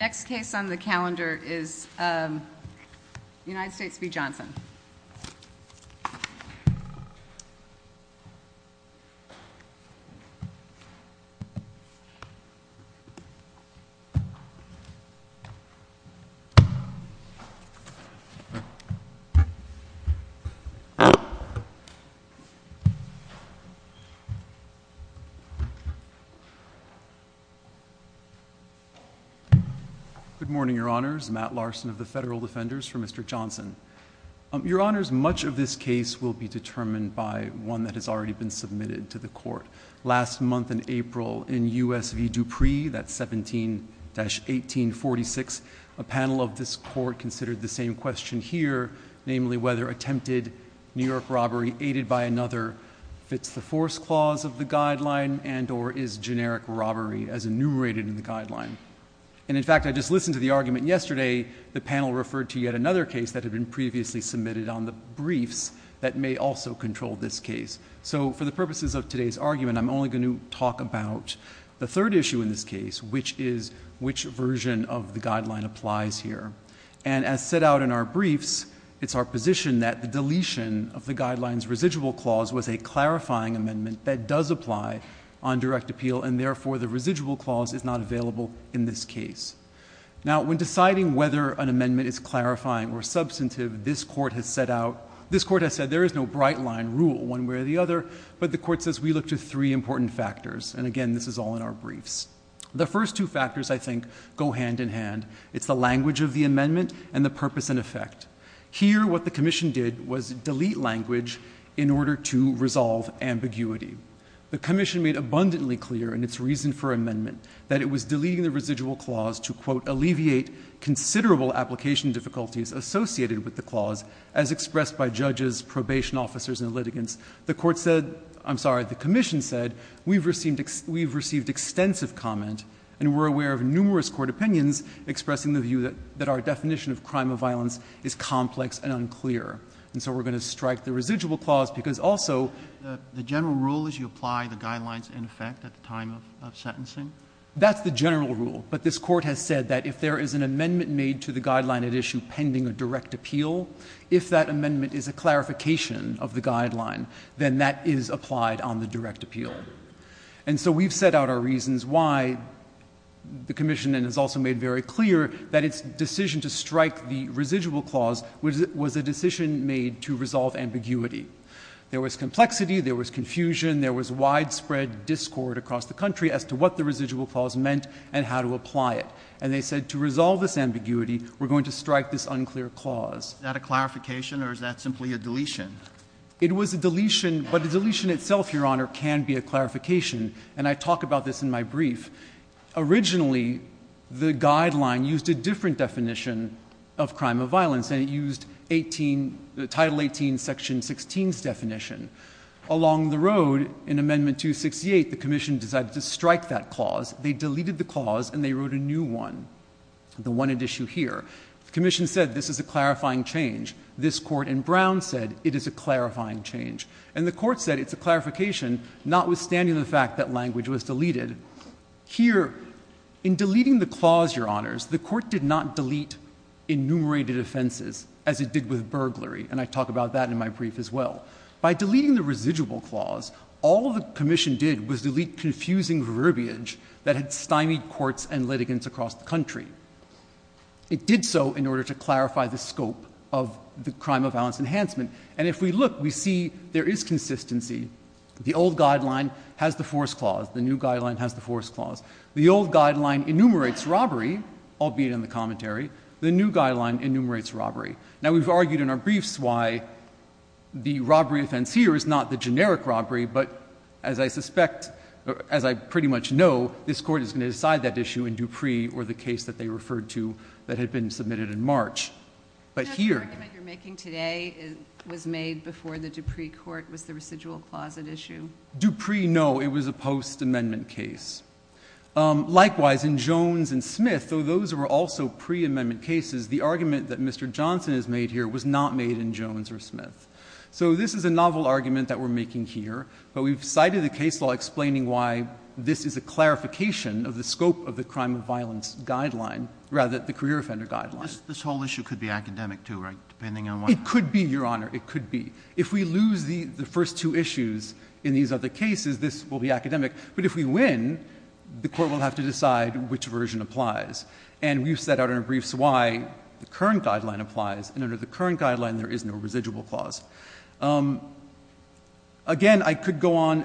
The next case on the calendar is United States v. Johnson. Good morning, Your Honors. Matt Larson of the Federal Defenders for Mr. Johnson. Your Honors, much of this case will be determined by one that has already been submitted to the Court. Last month in April, in U.S. v. Dupree, that's 17-1846, a panel of this Court considered the same question here, namely whether attempted New York robbery aided by another fits the force clause of the guideline and or is generic robbery as enumerated in the guideline. And in fact, I just listened to the argument yesterday. The panel referred to yet another case that had been previously submitted on the briefs that may also control this case. So for the purposes of today's argument, I'm only going to talk about the third issue in this case, which is which version of the guideline applies here. And as set out in our briefs, it's our position that the deletion of the guideline's residual clause was a clarifying amendment that does apply on direct appeal and therefore the residual clause is not available in this case. Now when deciding whether an amendment is clarifying or substantive, this Court has set out, this Court has said there is no bright line rule one way or the other, but the Court says we look to three important factors, and again, this is all in our briefs. The first two factors, I think, go hand in hand. It's the language of the amendment and the purpose and effect. Here what the Commission did was delete language in order to resolve ambiguity. The Commission made abundantly clear in its reason for amendment that it was deleting the residual clause to, quote, alleviate considerable application difficulties associated with the clause as expressed by judges, probation officers, and litigants. The Court said, I'm sorry, the Commission said, we've received extensive comment and we're aware of numerous court opinions expressing the view that our definition of crime of violence is complex and unclear. And so we're going to strike the residual clause because also the general rule is you apply the guidelines in effect at the time of sentencing. That's the general rule, but this Court has said that if there is an amendment made to the guideline at issue pending a direct appeal, if that amendment is a clarification of the guideline, then that is applied on the direct appeal. And so we've set out our reasons why the Commission has also made very clear that its decision to strike the residual clause was a decision made to resolve ambiguity. There was complexity, there was confusion, there was widespread discord across the country as to what the residual clause meant and how to apply it. And they said to resolve this ambiguity, we're going to strike this unclear clause. Is that a clarification or is that simply a deletion? It was a deletion, but the deletion itself, Your Honor, can be a clarification. And I talk about this in my brief. Originally, the guideline used a different definition of crime of violence and it used the Title 18, Section 16's definition. Along the road, in Amendment 268, the Commission decided to strike that clause. They deleted the clause and they wrote a new one, the one at issue here. The Commission said this is a clarifying change. This Court in Brown said it is a clarifying change. And the Court said it's a clarification, notwithstanding the fact that language was deleted. Here, in deleting the clause, Your Honors, the Court did not delete enumerated offenses as it did with burglary. And I talk about that in my brief as well. By deleting the residual clause, all the Commission did was delete confusing verbiage that had stymied courts and litigants across the country. It did so in order to clarify the scope of the crime of violence enhancement. And if we look, we see there is consistency. The old guideline has the force clause. The new guideline has the force clause. The old guideline enumerates robbery, albeit in the commentary. The new guideline enumerates robbery. Now, we've argued in our briefs why the robbery offense here is not the generic robbery. But as I suspect, as I pretty much know, this Court is going to decide that issue in Dupree or the case that they referred to that had been submitted in March. But here— The argument you're making today was made before the Dupree Court was the residual clause at issue. Dupree, no. It was a post-amendment case. Likewise, in Jones and Smith, though those were also pre-amendment cases, the argument that Mr. Johnson has made here was not made in Jones or Smith. So this is a novel argument that we're making here. But we've cited the case law explaining why this is a clarification of the scope of the crime of violence guideline—rather, the career offender guideline. This whole issue could be academic too, right, depending on what— It could be, Your Honor. It could be. If we lose the first two issues in these other cases, this will be academic. But if we win, the Court will have to decide which version applies. And we've set out in our briefs why the current guideline applies. And under the current guideline, there is no residual clause. Again, I could go on.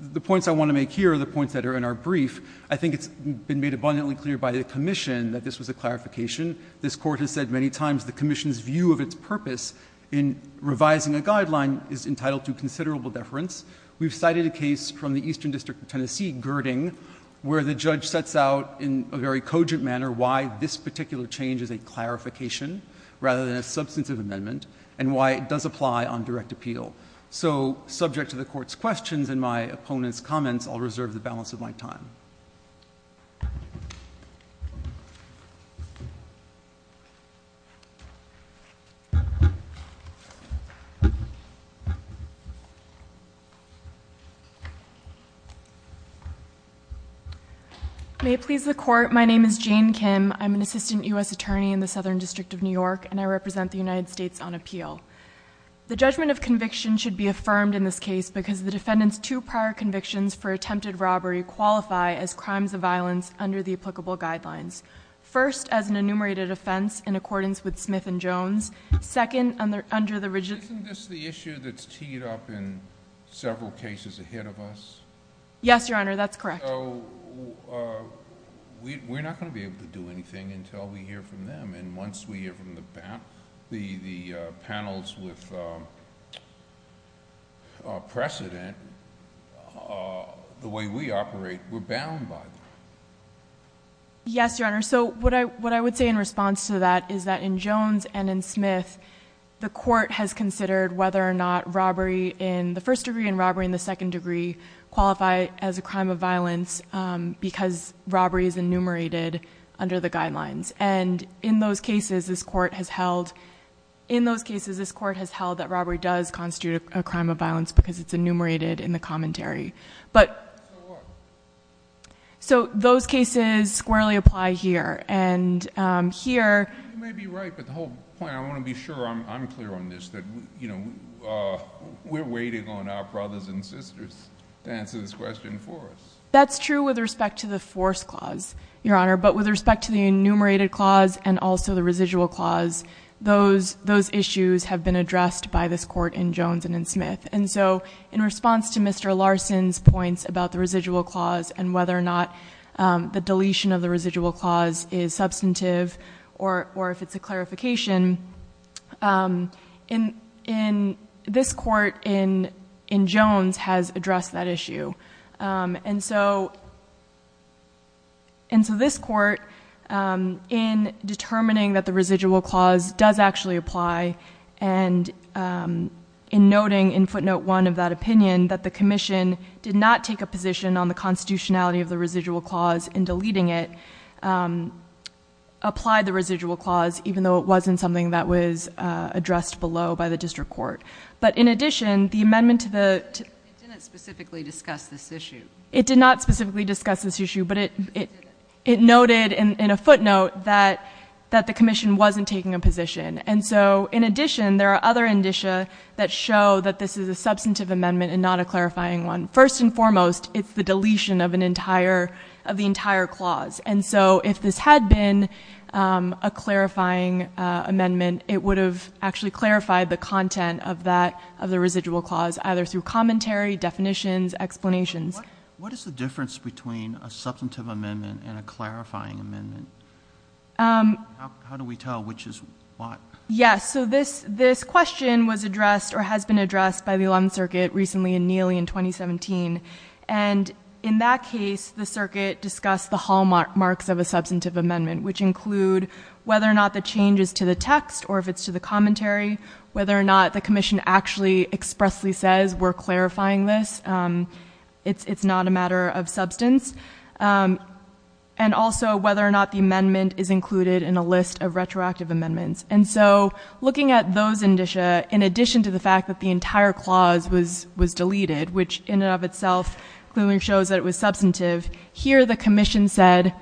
The points I want to make here are the points that are in our brief. I think it's been made abundantly clear by the Commission that this was a clarification. This Court has said many times the Commission's view of its purpose in revising a guideline is entitled to considerable deference. We've cited a case from the Eastern District of Tennessee, Girding, where the judge sets out in a very cogent manner why this particular change is a clarification rather than a substantive amendment and why it does apply on direct appeal. So subject to the Court's questions and my opponent's comments, I'll reserve the balance of my time. JANE KIM, ASSISTANT U.S. ATTORNEY, SOUTHERN DISTRICT OF NEW YORK May it please the Court, my name is Jane Kim. I'm an Assistant U.S. Attorney in the Southern District of New York, and I represent the United States on appeal. The judgment of conviction should be affirmed in this case because the defendant's two prior convictions for attempted robbery qualify as crimes of violence under the applicable guidelines. First, as an enumerated offense in accordance with Smith and Jones. Second, under the rigid— Several cases ahead of us? JANE KIM, ASSISTANT U.S. ATTORNEY, SOUTHERN DISTRICT OF NEW YORK Yes, Your Honor, that's correct. So we're not going to be able to do anything until we hear from them, and once we hear from the panels with precedent, the way we operate, we're bound by them. JANE KIM, ASSISTANT U.S. ATTORNEY, SOUTHERN DISTRICT OF NEW YORK Yes, Your Honor. So what I would say in response to that is that in Jones and in Smith, the Court has considered whether or not robbery in the first degree and robbery in the second degree qualify as a crime of violence because robbery is enumerated under the guidelines. And in those cases, this Court has held that robbery does constitute a crime of violence because it's enumerated in the commentary. JANE KIM, ASSISTANT U.S. ATTORNEY, SOUTHERN DISTRICT OF NEW YORK So those cases squarely apply here, and here— You may be right, but the whole point, I want to be sure I'm clear on this, that we're waiting on our brothers and sisters to answer this question for us. JANE KIM, ASSISTANT U.S. ATTORNEY, SOUTHERN DISTRICT OF NEW YORK That's true with respect to the force clause, Your Honor, but with respect to the enumerated clause and also the residual clause, those issues have been addressed by this Court in Jones and in Smith. And so in response to Mr. Larson's points about the residual clause and whether or not the deletion of the residual clause is substantive or if it's a clarification, this Court in Jones has addressed that issue. And so this Court, in determining that the residual clause does actually apply, and in noting in footnote 1 of that opinion that the Commission did not take a position on the constitutionality of the residual clause in deleting it, applied the residual clause, even though it wasn't something that was addressed below by the District Court. But in addition, the amendment to the— JANE KIM, ASSISTANT U.S. ATTORNEY, SOUTHERN DISTRICT OF NEW YORK JANE KIM, ASSISTANT U.S. ATTORNEY, SOUTHERN DISTRICT OF NEW YORK It did. JANE KIM, ASSISTANT U.S. ATTORNEY, SOUTHERN DISTRICT OF NEW YORK First and foremost, it's the deletion of an entire—of the entire clause. And so if this had been a clarifying amendment, it would have actually clarified the content of that, of the residual clause, either through commentary, definitions, explanations. CHIEF JUSTICE ROBERTS, JR. What is the difference between a substantive amendment and a clarifying amendment? JANE KIM, ASSISTANT U.S. ATTORNEY, SOUTHERN DISTRICT OF NEW YORK Yes. So this question was addressed or has been addressed by the 11th Circuit recently, in Neely, in 2017. And in that case, the Circuit discussed the hallmarks of a substantive amendment, which include whether or not the change is to the text or if it's to the commentary, whether or not the Commission actually expressly says, we're clarifying this, it's not a matter of substance, and also whether or not the amendment is included in a list of retroactive amendments. And so looking at those indicia, in addition to the fact that the entire clause was deleted, which in and of itself clearly shows that it was substantive, here the Commission said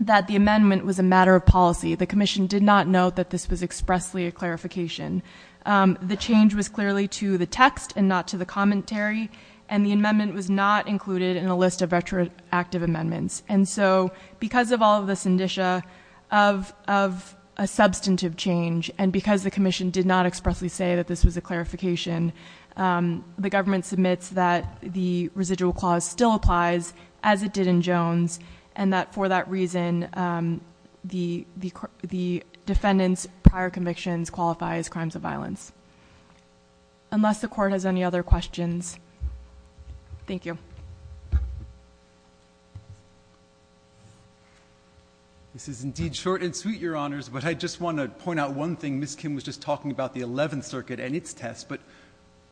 that the amendment was a matter of policy. The Commission did not note that this was expressly a clarification. The change was clearly to the text and not to the commentary, and the amendment was not included in a list of retroactive amendments. And so because of all of this indicia of a substantive change, and because the Commission did not expressly say that this was a clarification, the government submits that the residual clause still applies, as it did in Jones, and that for that reason, the defendant's prior convictions qualify as crimes of violence. Unless the court has any other questions. Thank you. This is indeed short and sweet, Your Honors, but I just want to point out one thing. Ms. Kim was just talking about the Eleventh Circuit and its test, but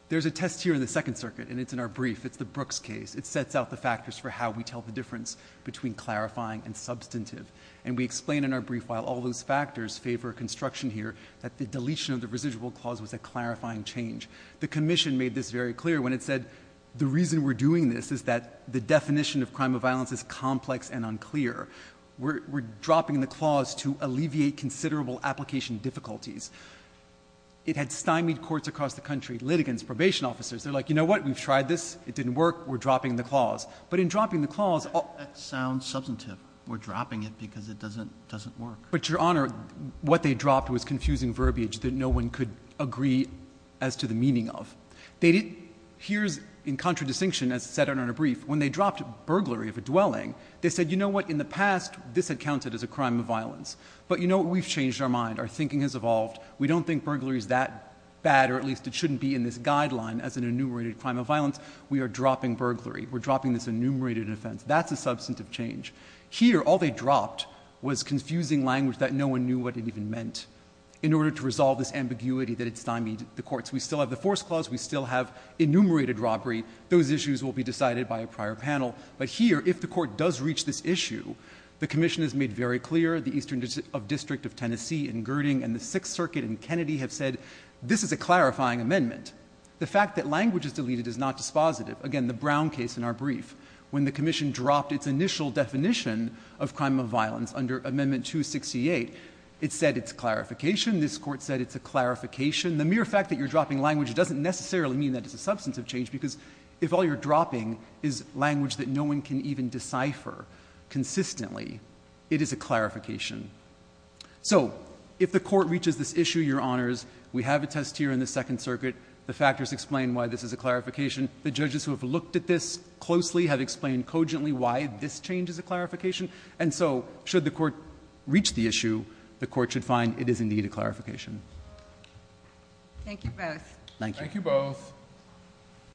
there's a test here in the Second Circuit, and it's in our brief. It's the Brooks case. It sets out the factors for how we tell the difference between clarifying and substantive. And we explain in our brief, while all those factors favor construction here, that the deletion of the residual clause was a clarifying change. The Commission made this very clear when it said, the reason we're doing this is that the definition of crime of violence is complex and unclear. We're dropping the clause to alleviate considerable application difficulties. It had stymied courts across the country, litigants, probation officers. They're like, you know what? We've tried this. It didn't work. We're dropping the clause. But in dropping the clause... That sounds substantive. We're dropping it because it doesn't work. But, Your Honor, what they dropped was confusing verbiage that no one could agree as to the meaning of. They didn't... Here's, in contradistinction, as it said in our brief, when they dropped burglary of a dwelling, they said, you know what? In the past, this had counted as a crime of violence. But you know what? We've changed our mind. Our thinking has evolved. We don't think burglary is that bad, or at least it shouldn't be in this guideline as an enumerated crime of violence. We are dropping burglary. We're dropping this enumerated offense. That's a substantive change. Here, all they dropped was confusing language that no one knew what it even meant in order to resolve this ambiguity that had stymied the courts. We still have the force clause. We still have enumerated robbery. Those issues will be decided by a prior panel. But here, if the court does reach this issue, the commission has made very clear, the Eastern District of Tennessee in Girding and the Sixth Circuit in Kennedy have said, this is a clarifying amendment. The fact that language is deleted is not dispositive. Again, the Brown case in our brief, when the commission dropped its initial definition of crime of violence under Amendment 268, it said it's clarification. This court said it's a clarification. The mere fact that you're dropping language doesn't necessarily mean that it's a substantive change, because if all you're dropping is language that no one can even decipher consistently, it is a clarification. So if the court reaches this issue, Your Honors, we have a test here in the Second Circuit. The factors explain why this is a clarification. The judges who have looked at this closely have explained cogently why this change is a clarification. And so should the court reach the issue, the court should find it is indeed a clarification. Thank you both. Thank you. Thank you both.